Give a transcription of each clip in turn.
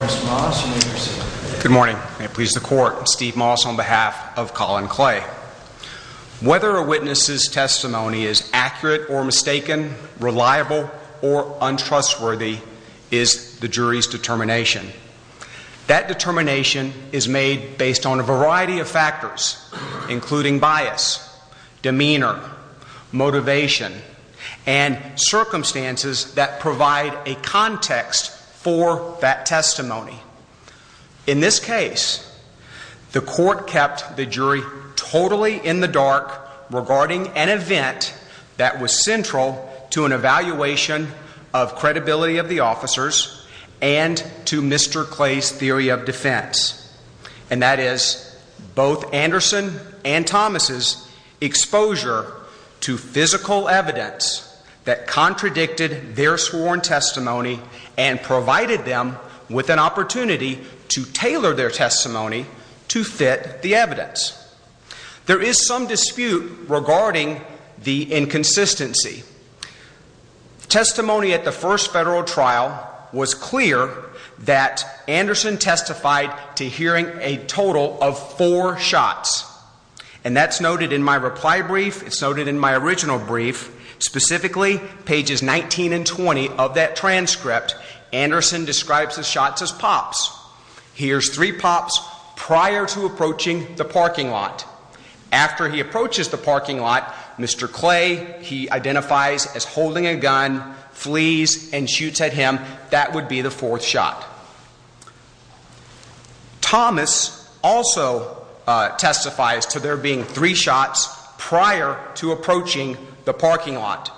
Whether a witness's testimony is accurate or mistaken, reliable or untrustworthy is the jury's determination. That determination is made based on a variety of factors, including bias, demeanor, motivation, and circumstances that provide a context for that testimony. In this case, the court kept the jury totally in the dark regarding an event that was central to an evaluation of credibility of the officers and to Mr. Clay's theory of defense, and that is, both Anderson and Thomas' exposure to physical evidence that contradicted their sworn testimony and provided them with an opportunity to tailor their testimony to fit the evidence. There is some dispute regarding the inconsistency. Testimony at the first federal trial was clear that Anderson testified to hearing a total of four shots, and that's noted in my reply brief. It's noted in my original brief, specifically pages 19 and 20 of that transcript. Anderson describes his shots as pops. He hears three pops prior to approaching the parking lot. After he that would be the fourth shot. Thomas also testifies to there being three shots prior to approaching the parking lot.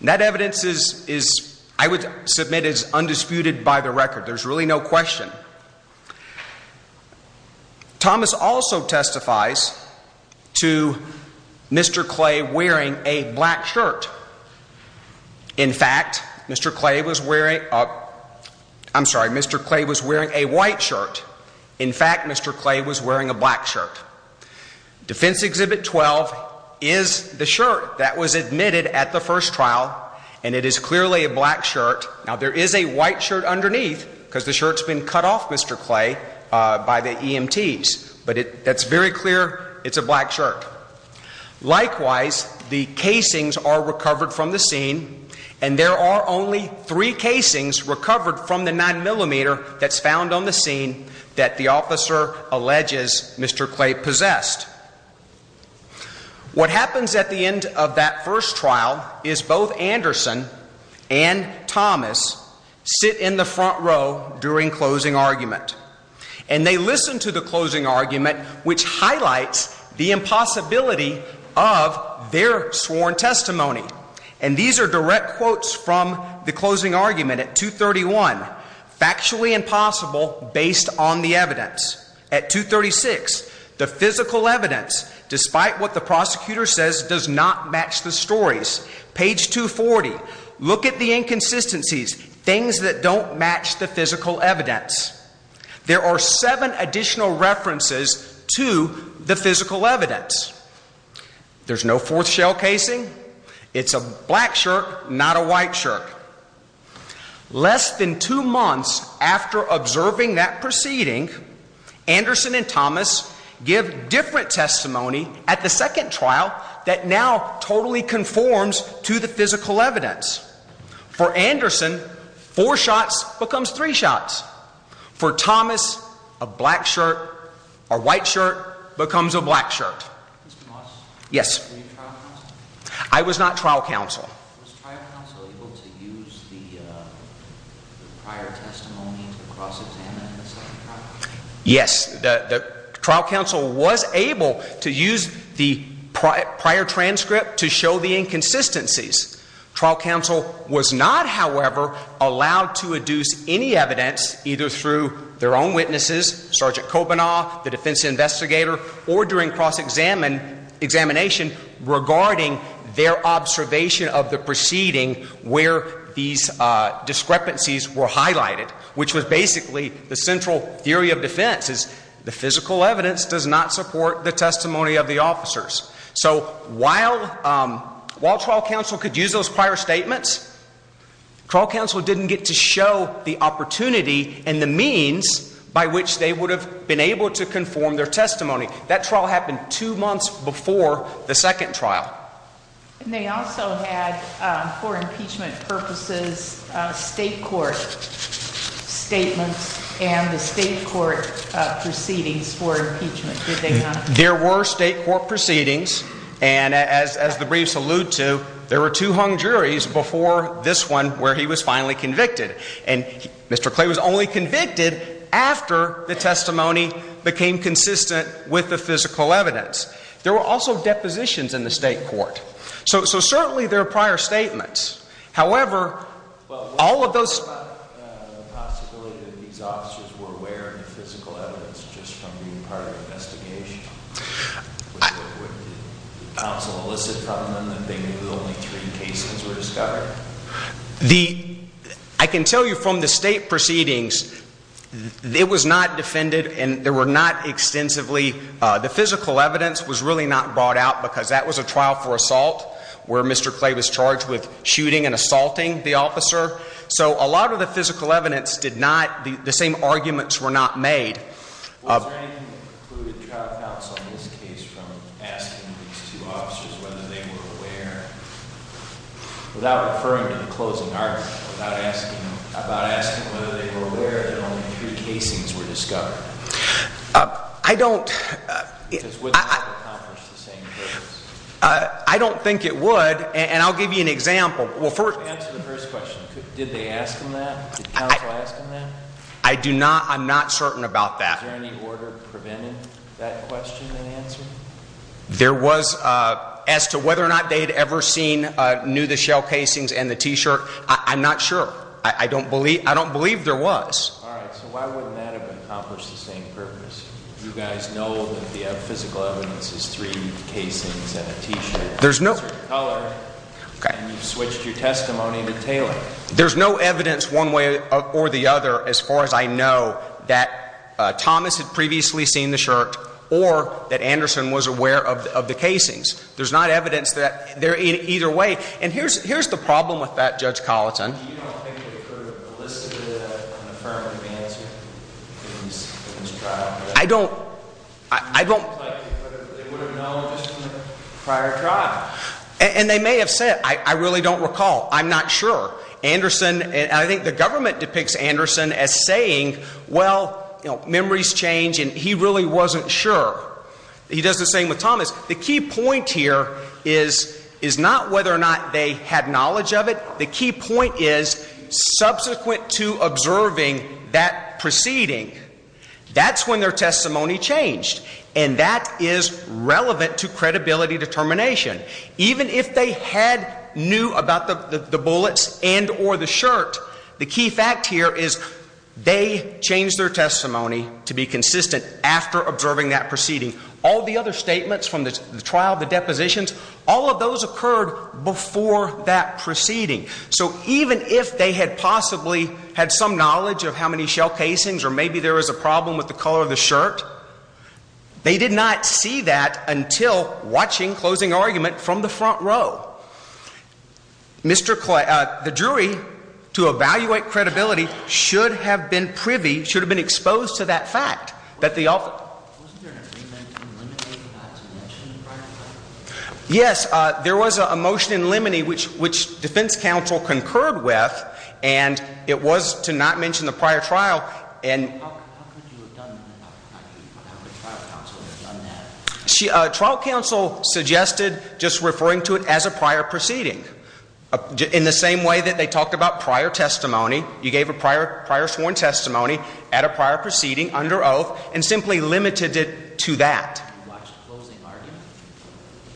That evidence is, I would submit, is undisputed by the record. There's really no question. Thomas also testifies to Mr. Clay wearing a black shirt. In fact, Mr. Clay was wearing, oh, I'm sorry, Mr. Clay was wearing a white shirt. In fact, Mr. Clay was wearing a black shirt. Defense Exhibit 12 is the shirt that was admitted at the first trial, and it is clearly a black shirt. Now, there is a white shirt underneath because the shirt's been cut off, but the shirt Mr. Clay by the EMTs, but that's very clear. It's a black shirt. Likewise, the casings are recovered from the scene, and there are only three casings recovered from the nine millimeter that's found on the scene that the officer alleges Mr. Clay possessed. What happens at the end of that first trial is both Anderson and Thomas sit in the front row during closing argument, and they listen to the closing argument, which highlights the impossibility of their sworn testimony. And these are direct quotes from the closing argument at 231, factually impossible based on the evidence. At 236, the physical evidence, despite what the prosecutor says, does not match the stories. Page 240, look at the inconsistencies, things that don't match the physical evidence. There are seven additional references to the physical evidence. There's no fourth shell casing. It's a black shirt, not a white shirt. Less than two months after observing that proceeding, Anderson and Thomas give different testimony at the second trial that now totally conforms to the physical evidence. For Anderson, four shots becomes three shots. For Thomas, a black shirt or white shirt becomes a black shirt. Yes, I was not trial counsel. Yes, the trial counsel was able to use the prior transcript to show the inconsistencies. Trial counsel was not, however, allowed to adduce any evidence either through their own witnesses, Sergeant Kobanaw, the defense investigator, or during cross-examination regarding their observation of the proceeding where these discrepancies were highlighted, which was basically the central theory of defense is the physical evidence does not support the testimony of the statements. Trial counsel didn't get to show the opportunity and the means by which they would have been able to conform their testimony. That trial happened two months before the second trial. There were state court proceedings and as the briefs allude to, there were two hung juries before this one where he was finally convicted. And Mr. Clay was only convicted after the testimony became consistent with the physical evidence. There were also depositions in the state court. So certainly there are prior statements. However, all of those... I can tell you from the state proceedings, it was not defended and there were not extensively, the physical evidence was really not brought out because that was a trial for assault where Mr. Clay was charged with shooting and assaulting the officer. So a lot of the physical evidence did not, the same arguments were not made. Without referring to the closing argument, without asking about asking whether they were aware that only three casings were discovered. I don't... I don't think it would and I'll give you an example. Well, first answer the first question. Did they ask him that? Did counsel ask him that? I do not. I'm not certain about that. Is there any order preventing that question and answer? There was as to whether or not they had ever seen, knew the shell casings and the t-shirt. I'm not sure. I don't believe, I don't believe there was. All right, so why wouldn't that have accomplished the same purpose? You guys know that the physical evidence is three casings and a t-shirt. There's no... Color and you switched your testimony to tailoring. There's no evidence one way or the other as far as I know that Thomas had previously seen the shirt or that Anderson was aware of the casings. There's not evidence that they're in either way and here's, here's the problem with that Judge Colleton. I don't, I don't... And they may have said, I really don't recall. I'm not sure. Anderson and I think the government depicts Anderson as saying, well, you know, memories change and he point here is, is not whether or not they had knowledge of it. The key point is subsequent to observing that proceeding. That's when their testimony changed and that is relevant to credibility determination. Even if they had knew about the bullets and or the shirt, the key fact here is they changed their testimony to be consistent after observing that proceeding. All the other statements from the trial, the depositions, all of those occurred before that proceeding. So even if they had possibly had some knowledge of how many shell casings or maybe there was a problem with the color of the shirt, they did not see that until watching closing argument from the front row. Mr. Clay, uh, the jury to evaluate credibility should have been privy, should have been exposed to that fact that the... Yes. Uh, there was a motion in Lemony, which, which defense counsel concurred with and it was to not mention the prior trial and... She, uh, trial counsel suggested just referring to it as a prior proceeding in the same way that they talked about prior testimony. You gave a prior, prior sworn testimony at a prior proceeding under oath and simply limited it to that.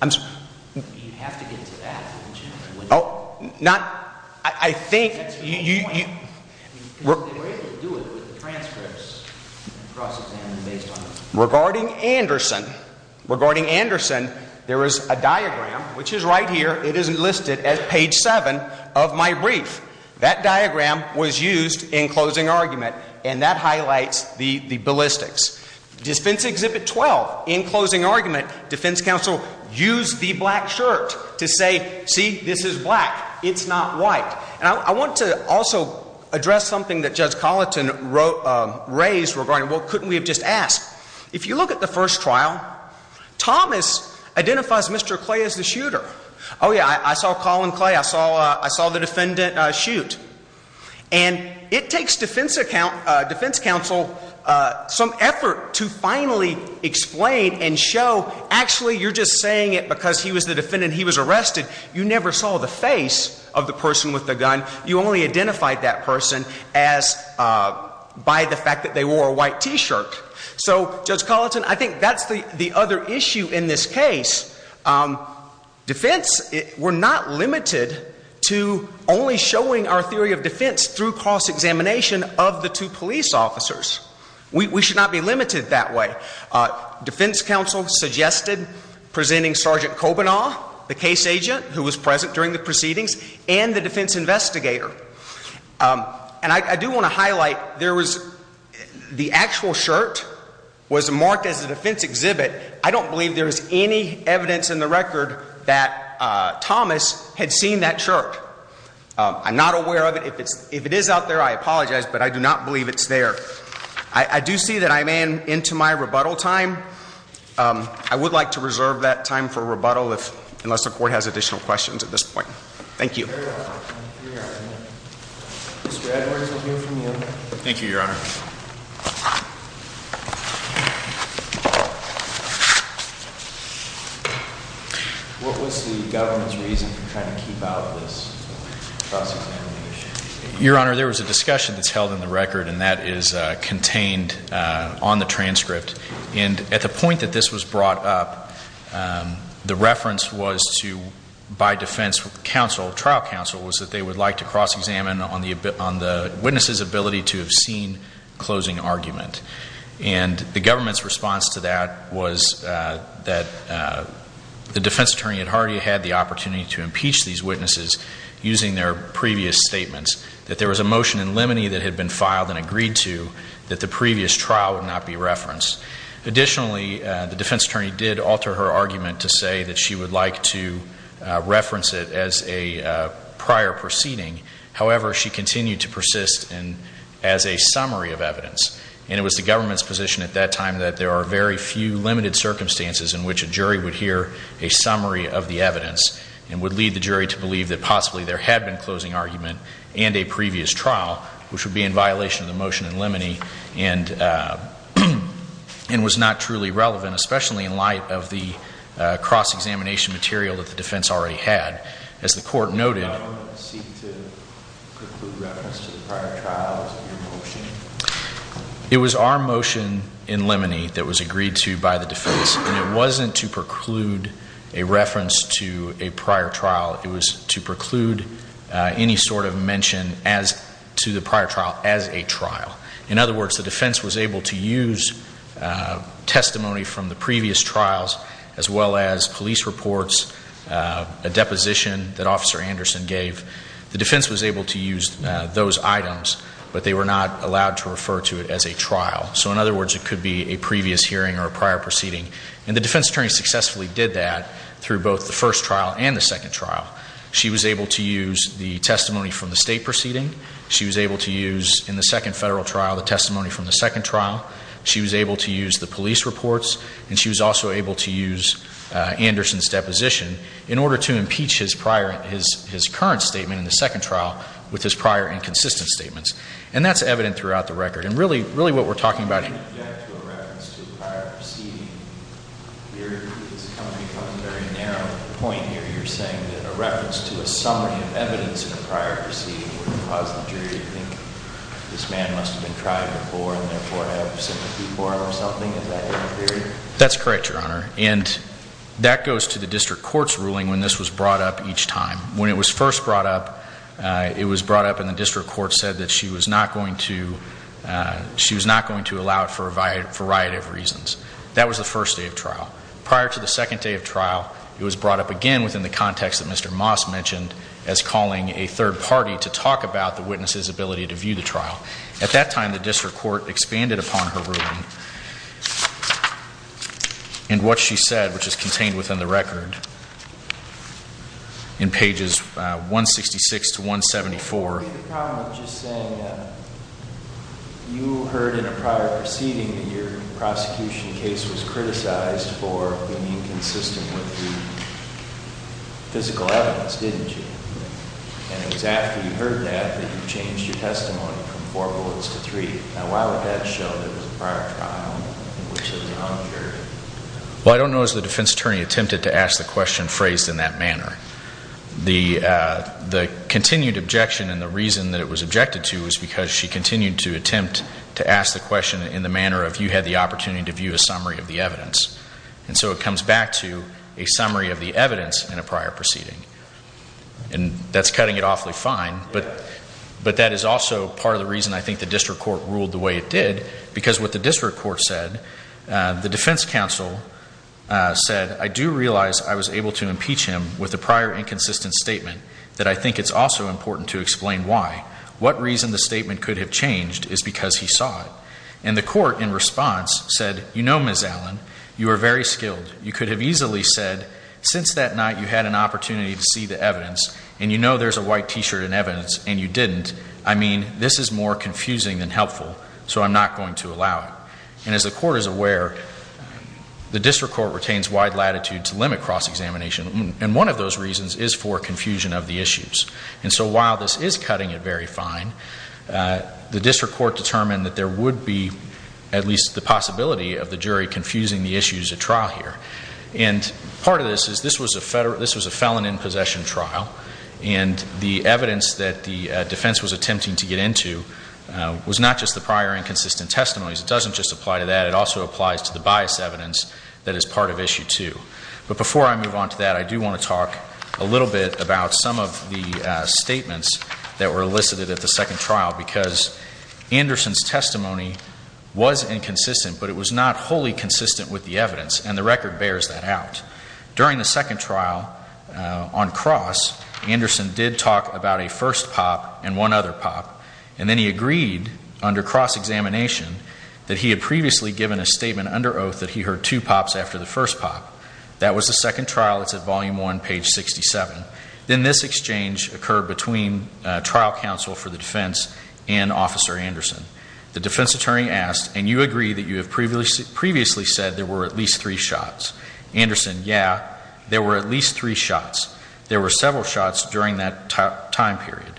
I'm sorry. You have to get to that. Oh, not, I think regarding Anderson, regarding Anderson, there is a diagram, which is right here. It isn't listed as page seven of my brief. That diagram was used in closing argument and that highlights the, the ballistics. Defense Exhibit 12, in closing argument, defense counsel used the black shirt to say, see, this is black. It's not white. And I want to also address something that Judge Colleton wrote, um, raised regarding, well, couldn't we have just asked? If you look at the first trial, Thomas identifies Mr. Clay as the shooter. Oh, yeah. I saw Colin Clay. I saw, uh, I saw the defendant, uh, shoot. And it takes defense account, uh, defense counsel, uh, some effort to finally explain and show, actually, you're just saying it because he was the defendant. He was arrested. You never saw the face of the person with the gun. You only identified that person as, uh, by the other issue in this case. Um, defense, we're not limited to only showing our theory of defense through cross-examination of the two police officers. We, we should not be limited that way. Uh, defense counsel suggested presenting Sergeant Kobanaw, the case agent who was present during the proceedings, and the defense investigator. Um, and I, I do want to highlight there was, the actual shirt was marked as a defense exhibit. I don't believe there's any evidence in the record that, uh, Thomas had seen that shirt. Um, I'm not aware of it. If it's, if it is out there, I apologize, but I do not believe it's there. I, I do see that I'm in, into my rebuttal time. Um, I would like to reserve that time for rebuttal if, unless the court has additional questions at this point. Thank you. Mr. Edwards, I hear from you. Thank you, Your Honor. What was the government's reason for trying to keep out this cross-examination? Your Honor, there was a discussion that's held in the record and that is, uh, contained, uh, on the transcript. And at the point that this was brought up, um, the reference was to, by defense counsel, trial counsel, was that they would like to cross-examine on the, on the witness' ability to have seen closing argument. And the government's response to that was, uh, that, uh, the defense attorney had already had the opportunity to impeach these witnesses using their previous statements. That there was a motion in limine that had been filed and agreed to that the previous trial would not be referenced. Additionally, uh, the defense attorney did alter her argument to say that she would like to, uh, reference it as a, uh, prior proceeding. However, she continued to persist in, as a summary of evidence. And it was the government's position at that time that there are very few limited circumstances in which a jury would hear a summary of the evidence and would lead the jury to believe that possibly there had been closing argument and a previous trial, which would be in violation of the motion in limine. And, uh, and was not truly relevant, especially in light of the, uh, cross-examination material that the defense already had. As the court noted, it was our motion in limine that was agreed to by the defense and it wasn't to preclude a reference to a prior trial. It was to preclude, uh, any sort of mention as to the prior trial as a trial. In other words, the defense was able to use, uh, testimony from the previous trials as well as police reports, uh, a deposition that Officer Anderson gave. The defense was able to use, uh, those items, but they were not allowed to refer to it as a trial. So in other words, it could be a previous hearing or a prior proceeding. And the defense attorney successfully did that through both the first trial and the second trial. She was able to use the testimony from the state proceeding. She was able to use in the second federal trial, the testimony from the second trial. She was able to use the police reports, and she was also able to use, uh, Anderson's deposition in order to impeach his prior, his, his current statement in the second trial with his prior inconsistent statements. And that's evident throughout the record. And really, really what we're talking about. That's correct, Your Honor. And that goes to the district court's ruling when this was brought up each time. When it was first brought up, uh, it was brought up and the district court said that she was not going to, uh, she was not going to allow it for a variety of reasons. That was the first day of trial. Prior to the second day of trial, it was brought up again within the context that Mr. Moss mentioned as calling a third party to talk about the witness's ability to view the trial. At that time, the district court expanded upon her ruling and what she said, which is that, uh, the, uh, the continued objection and the reason that it was objected to was because she continued to attempt to ask the question in the manner of you had the opportunity to view a summary of the evidence. And so, it comes back to a summary of the evidence in a prior proceeding. And that's cutting it awfully fine, but, but that is also part of the reason I think the district court ruled the way it did because what the district court said, uh, the defense counsel, uh, said, I do realize I was able to impeach him with a prior inconsistent statement that I think it's also important to explain why. What reason the statement could have changed is because he saw it. And the court in response said, you know, Ms. Allen, you are very skilled. You could have easily said, since that night you had an opportunity to see the evidence and you know there's a white t-shirt in evidence and you didn't, I mean, this is more confusing than helpful, so I'm not going to allow it. And as the court is aware, the district court wide latitude to limit cross-examination. And one of those reasons is for confusion of the issues. And so, while this is cutting it very fine, uh, the district court determined that there would be at least the possibility of the jury confusing the issues at trial here. And part of this is this was a federal, this was a felon in possession trial. And the evidence that the, uh, defense was attempting to get into, uh, was not just the prior inconsistent testimonies. It doesn't just apply to that. It also applies to the bias evidence that is part of issue two. But before I move on to that, I do want to talk a little bit about some of the, uh, statements that were elicited at the second trial because Anderson's testimony was inconsistent, but it was not wholly consistent with the evidence and the record bears that out. During the second trial, uh, on cross, Anderson did talk about a first pop and one other pop. And then he agreed under cross-examination that he had previously given a statement under oath that he heard two pops after the first pop. That was the second trial. It's at volume one, page 67. Then this exchange occurred between, uh, trial counsel for the defense and officer Anderson. The defense attorney asked, and you agree that you have previously said there were at least three shots. Anderson, yeah, there were at least three shots. There were several shots during that time period.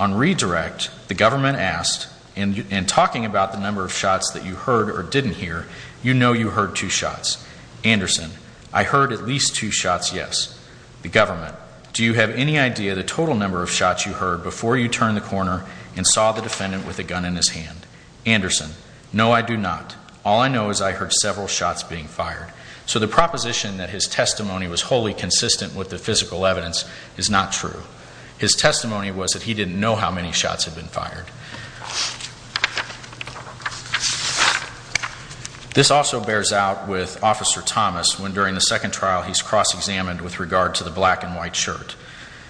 On redirect, the government asked, and talking about the number of shots that you heard or didn't hear, you know, you heard two shots. Anderson, I heard at least two shots. Yes. The government. Do you have any idea the total number of shots you heard before you turned the corner and saw the defendant with a gun in his hand? Anderson? No, I do not. All I know is I heard several shots being fired. So the proposition that his testimony was wholly consistent with the physical evidence is not true. His testimony was that he didn't know how many shots had been This also bears out with Officer Thomas when during the second trial he's cross-examined with regard to the black and white shirt.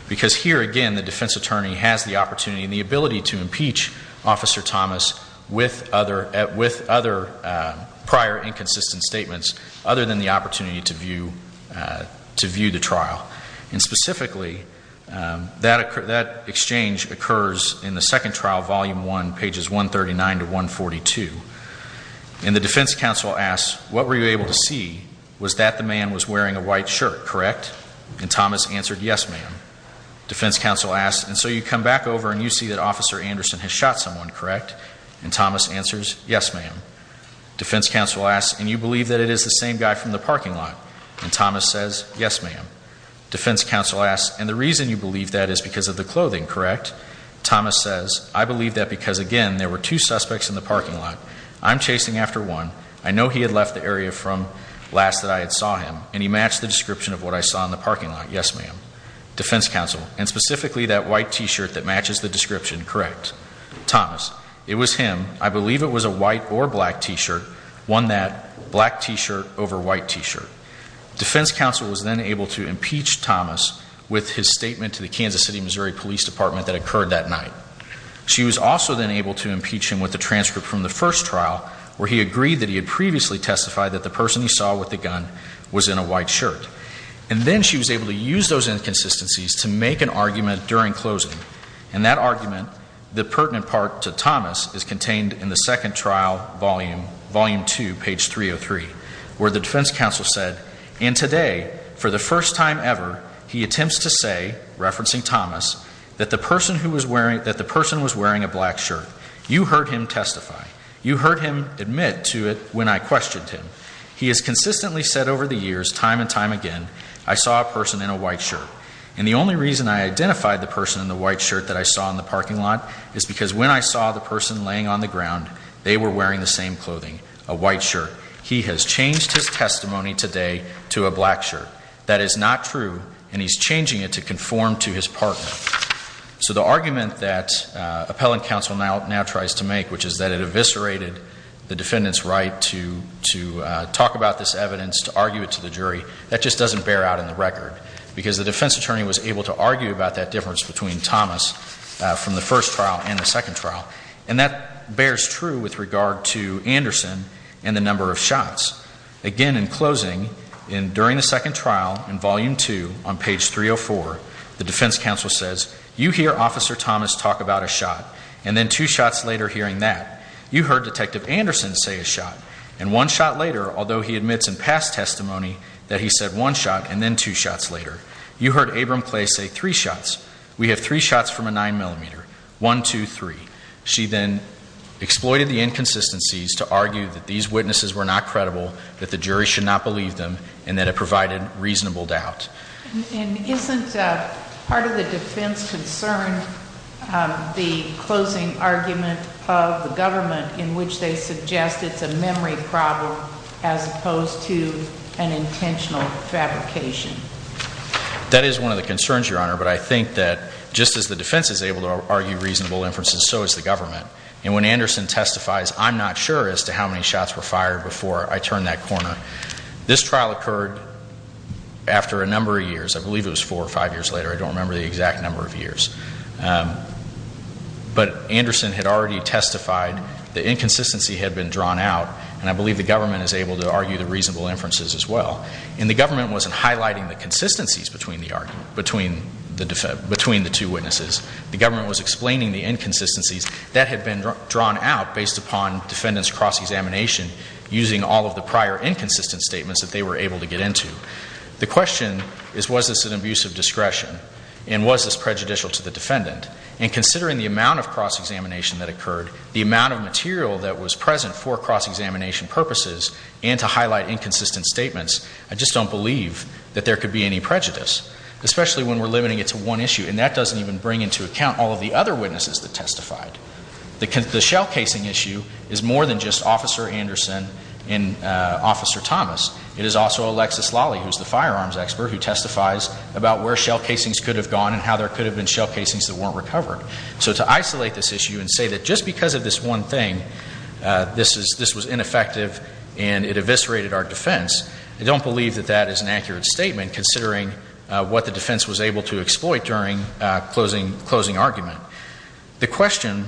Because here again, the defense attorney has the opportunity and the ability to impeach Officer Thomas with other, with other, uh, prior inconsistent statements other than the opportunity to view, uh, to view the trial. And specifically, um, that, that exchange occurs in the second trial, volume one, pages 139 to 142. And the defense counsel asks, what were you able to see? Was that the man was wearing a white shirt, correct? And Thomas answered, yes, ma'am. Defense counsel asks, and so you come back over and you see that Officer Anderson has shot someone, correct? And Thomas answers, yes, ma'am. Defense counsel asks, and you believe that it is the same guy from the parking lot? And Thomas says, yes, ma'am. Defense counsel asks, and the Thomas says, I believe that because again, there were two suspects in the parking lot. I'm chasing after one. I know he had left the area from last that I had saw him and he matched the description of what I saw in the parking lot. Yes, ma'am. Defense counsel, and specifically that white t-shirt that matches the description, correct? Thomas, it was him. I believe it was a white or black t-shirt, one that black t-shirt over white t-shirt. Defense counsel was then able to impeach Thomas with his statement to the Kansas City, Missouri Police Department that occurred that night. She was also then able to impeach him with the transcript from the first trial where he agreed that he had previously testified that the person he saw with the gun was in a white shirt. And then she was able to use those inconsistencies to make an argument during closing. And that argument, the pertinent part to Thomas is contained in the second trial, volume two, page 303, where the defense counsel said, and today, for the first time ever, he attempts to say, referencing Thomas, that the person who was wearing, that the person was wearing a black shirt. You heard him testify. You heard him admit to it when I questioned him. He has consistently said over the years, time and time again, I saw a person in a white shirt. And the only reason I identified the person in the white shirt that I saw in the parking lot is because when I saw the person laying on the ground, they were wearing the same clothing, a white shirt. He has changed his testimony today to a black shirt. That is not true, and he's changing it to conform to his partner. So the argument that appellant counsel now tries to make, which is that it eviscerated the defendant's right to talk about this evidence, to argue it to the jury, that just doesn't bear out in the record. Because the defense attorney was able to argue about that difference between Thomas from the first trial and the second trial. And that bears true with regard to Anderson and the number of shots. Again, in closing, during the second trial, in volume two, on page 304, the defense counsel says, you hear Officer Thomas talk about a shot, and then two shots later hearing that. You heard Detective Anderson say a shot, and one shot later, although he admits in past testimony, that he said one shot, and then two shots later. You heard Abram Clay say three shots. We have three shots from a 9mm. One, two, three. She then exploited the inconsistencies to argue that these witnesses were not credible, that the jury should not believe them, and that it provided reasonable doubt. And isn't part of the defense concerned the closing argument of the government in which they suggest it's a memory problem as opposed to an intentional fabrication? That is one of the concerns, Your Honor. But I think that just as the defense is able to argue reasonable inferences, so is the government. And when Anderson testifies, I'm not sure as to how many shots were fired before I turned that corner. This trial occurred after a number of years. I believe it was four or five years later. I don't remember the exact The inconsistency had been drawn out, and I believe the government is able to argue the reasonable inferences as well. And the government wasn't highlighting the consistencies between the two witnesses. The government was explaining the inconsistencies that had been drawn out based upon defendant's cross-examination using all of the prior inconsistent statements that they were able to get into. The question is, was this an abuse of discretion, and was this prejudicial to the defendant? And considering the amount of cross-examination that occurred, the amount of material that was present for cross-examination purposes, and to highlight inconsistent statements, I just don't believe that there could be any prejudice, especially when we're limiting it to one issue. And that doesn't even bring into account all of the other witnesses that testified. The shell casing issue is more than just Officer Anderson and Officer Thomas. It is also Alexis Lally, who's the firearms expert, who testifies about where shell casings could have gone and how shell casings that weren't recovered. So to isolate this issue and say that just because of this one thing, this was ineffective and it eviscerated our defense, I don't believe that that is an accurate statement, considering what the defense was able to exploit during closing argument. The question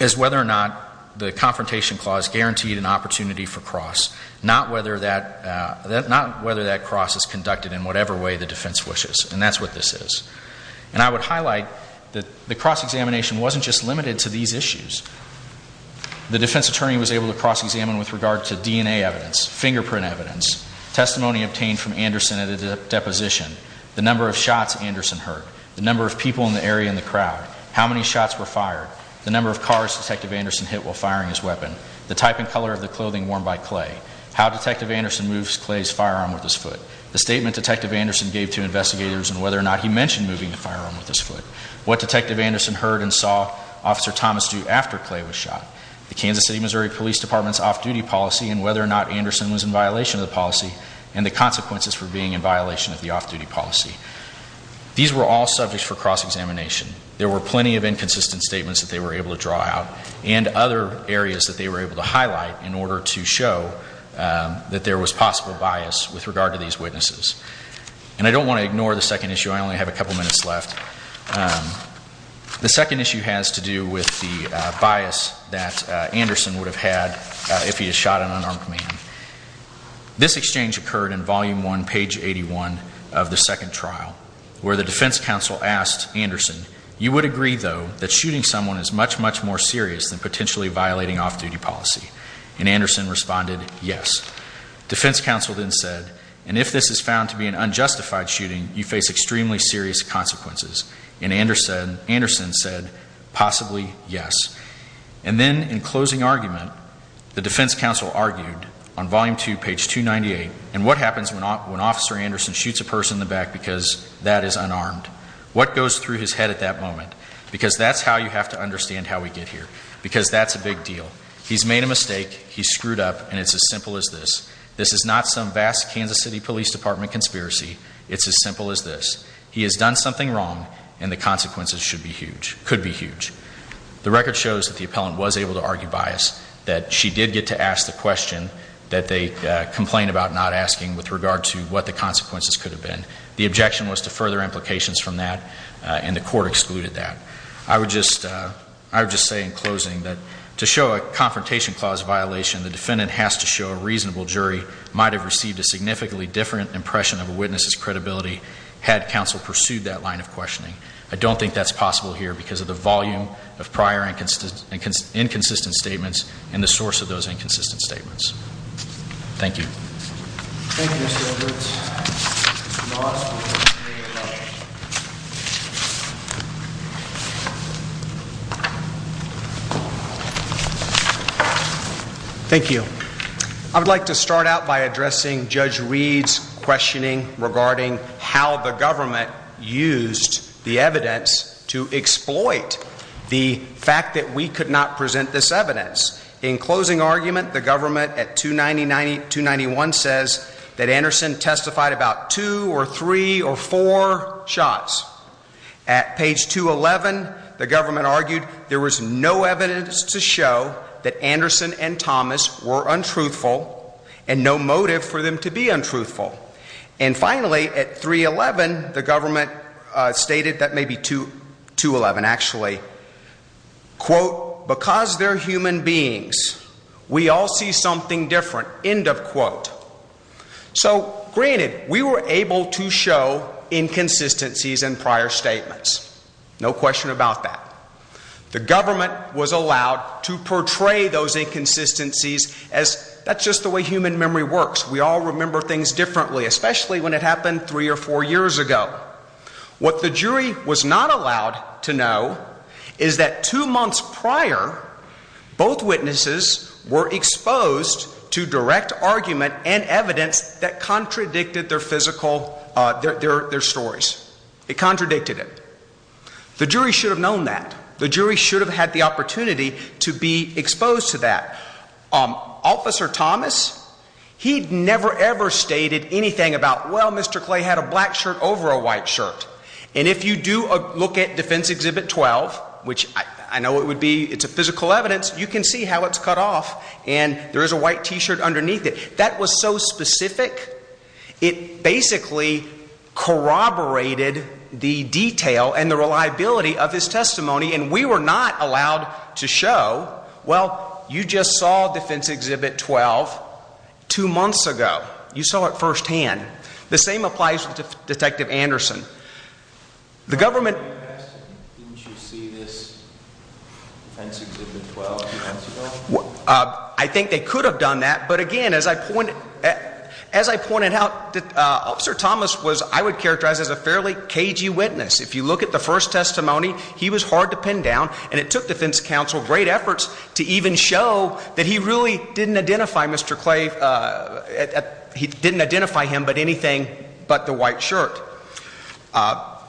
is whether or not the confrontation clause guaranteed an opportunity for cross, not whether that cross is conducted in whatever way the defense wishes. And that's what this is. And I would highlight that the cross-examination wasn't just limited to these issues. The defense attorney was able to cross-examine with regard to DNA evidence, fingerprint evidence, testimony obtained from Anderson at a deposition, the number of shots Anderson heard, the number of people in the area in the crowd, how many shots were fired, the number of cars Detective Anderson hit while firing his weapon, the type and color of the clothing worn by Clay, how Detective Anderson moves Clay's firearm with his foot, the statement Detective Anderson gave to investigators and he mentioned moving the firearm with his foot, what Detective Anderson heard and saw Officer Thomas do after Clay was shot, the Kansas City, Missouri Police Department's off-duty policy and whether or not Anderson was in violation of the policy and the consequences for being in violation of the off-duty policy. These were all subjects for cross-examination. There were plenty of inconsistent statements that they were able to draw out and other areas that they were able to highlight in order to show that there was possible bias with regard to these witnesses. And I don't want to ignore the second issue. I only have a couple minutes left. The second issue has to do with the bias that Anderson would have had if he had shot an unarmed man. This exchange occurred in volume one, page 81 of the second trial where the defense counsel asked Anderson, you would agree though that shooting someone is much, much more serious than potentially violating off-duty policy? And Anderson responded, yes. Defense counsel then said, and if this is found to be an unjustified shooting, you face extremely serious consequences. And Anderson said, possibly, yes. And then in closing argument, the defense counsel argued on volume two, page 298, and what happens when Officer Anderson shoots a person in the back because that is unarmed? What goes through his head at that moment? Because that's how you have to understand how we get here. Because that's a big deal. He's made a mistake, he's screwed up, and it's as simple as this. This is not some vast Kansas City Police Department conspiracy. It's as simple as this. He has done something wrong and the consequences should be huge, could be huge. The record shows that the appellant was able to argue bias, that she did get to ask the question that they complained about not asking with regard to what the consequences could have been. The objection was to further implications from that and the court excluded that. I would just say in closing that to show a confrontation clause violation, the defendant has to show a reasonable jury, might have received a significantly different impression of a witness's credibility had counsel pursued that line of questioning. I don't think that's possible here because of the volume of prior inconsistent statements and the source of those inconsistent statements. Thank you. Thank you, Mr. Edwards. Thank you. I would like to start out by addressing Judge Reed's questioning regarding how the government used the evidence to exploit the fact that we could not present this evidence. In closing argument, the government at 290, 291 says that Anderson testified about two or three or four shots. At page 211, the government argued there was no evidence to show that Anderson and Thomas were untruthful and no motive for them to be untruthful. And finally, at 311, the government stated, that may be 211 actually, quote, because they're human beings, we all see something different, end of quote. So granted, we were able to show inconsistencies in prior statements. No question about that. The government was allowed to portray those inconsistencies as that's just the way human memory works. We all remember things differently, especially when it happened three or four years ago. What the jury was not allowed to know is that two months prior, both witnesses were exposed to direct argument and evidence that contradicted their physical, their stories. It contradicted it. The jury should have known that. The jury should have had the opportunity to be exposed to that. Officer Thomas, he never ever stated anything about, well, Mr. Clay had a black shirt over a white shirt. And if you do look at Defense Exhibit 12, which I know it would be, it's a physical evidence, you can see how it's cut off. And there is a white t-shirt underneath it. That was so specific, it basically corroborated the detail and the reliability of his testimony. And we were not allowed to show, well, you just saw Defense Exhibit 12 two months ago. You saw it Detective Anderson. The government... Didn't you see this Defense Exhibit 12 two months ago? I think they could have done that. But again, as I pointed out, Officer Thomas was, I would characterize as a fairly cagey witness. If you look at the first testimony, he was hard to pin down. And it took Defense Counsel great efforts to even show that he really didn't identify Mr. Clay, he didn't identify him, but anything but the white shirt.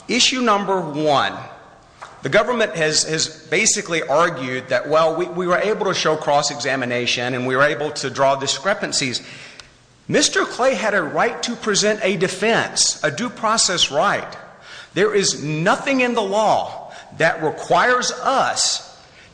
Issue number one, the government has basically argued that, well, we were able to show cross-examination and we were able to draw discrepancies. Mr. Clay had a right to present a defense, a due process right. There is nothing in the law that requires us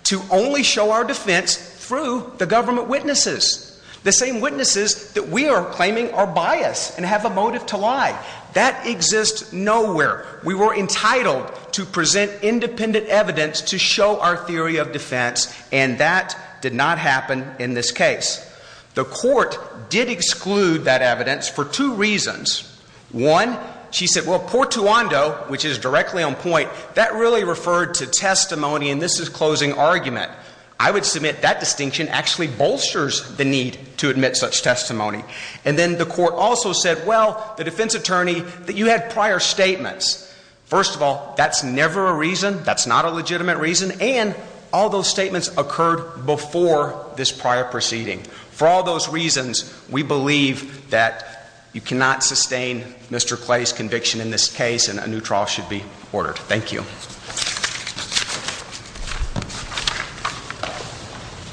to only show our that we are claiming our bias and have a motive to lie. That exists nowhere. We were entitled to present independent evidence to show our theory of defense and that did not happen in this case. The court did exclude that evidence for two reasons. One, she said, well, Portuando, which is directly on point, that really referred to testimony and this is closing argument. I would submit that distinction actually bolsters the need to admit such testimony. And then the court also said, well, the defense attorney, that you had prior statements. First of all, that's never a reason, that's not a legitimate reason and all those statements occurred before this prior proceeding. For all those reasons, we believe that you cannot sustain Mr. Clay's conviction in this case and a new trial should be ordered. Thank you. It's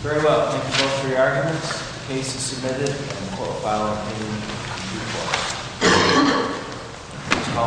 very well. Thank you both for your arguments. The case is submitted and the court will file an opinion in due course.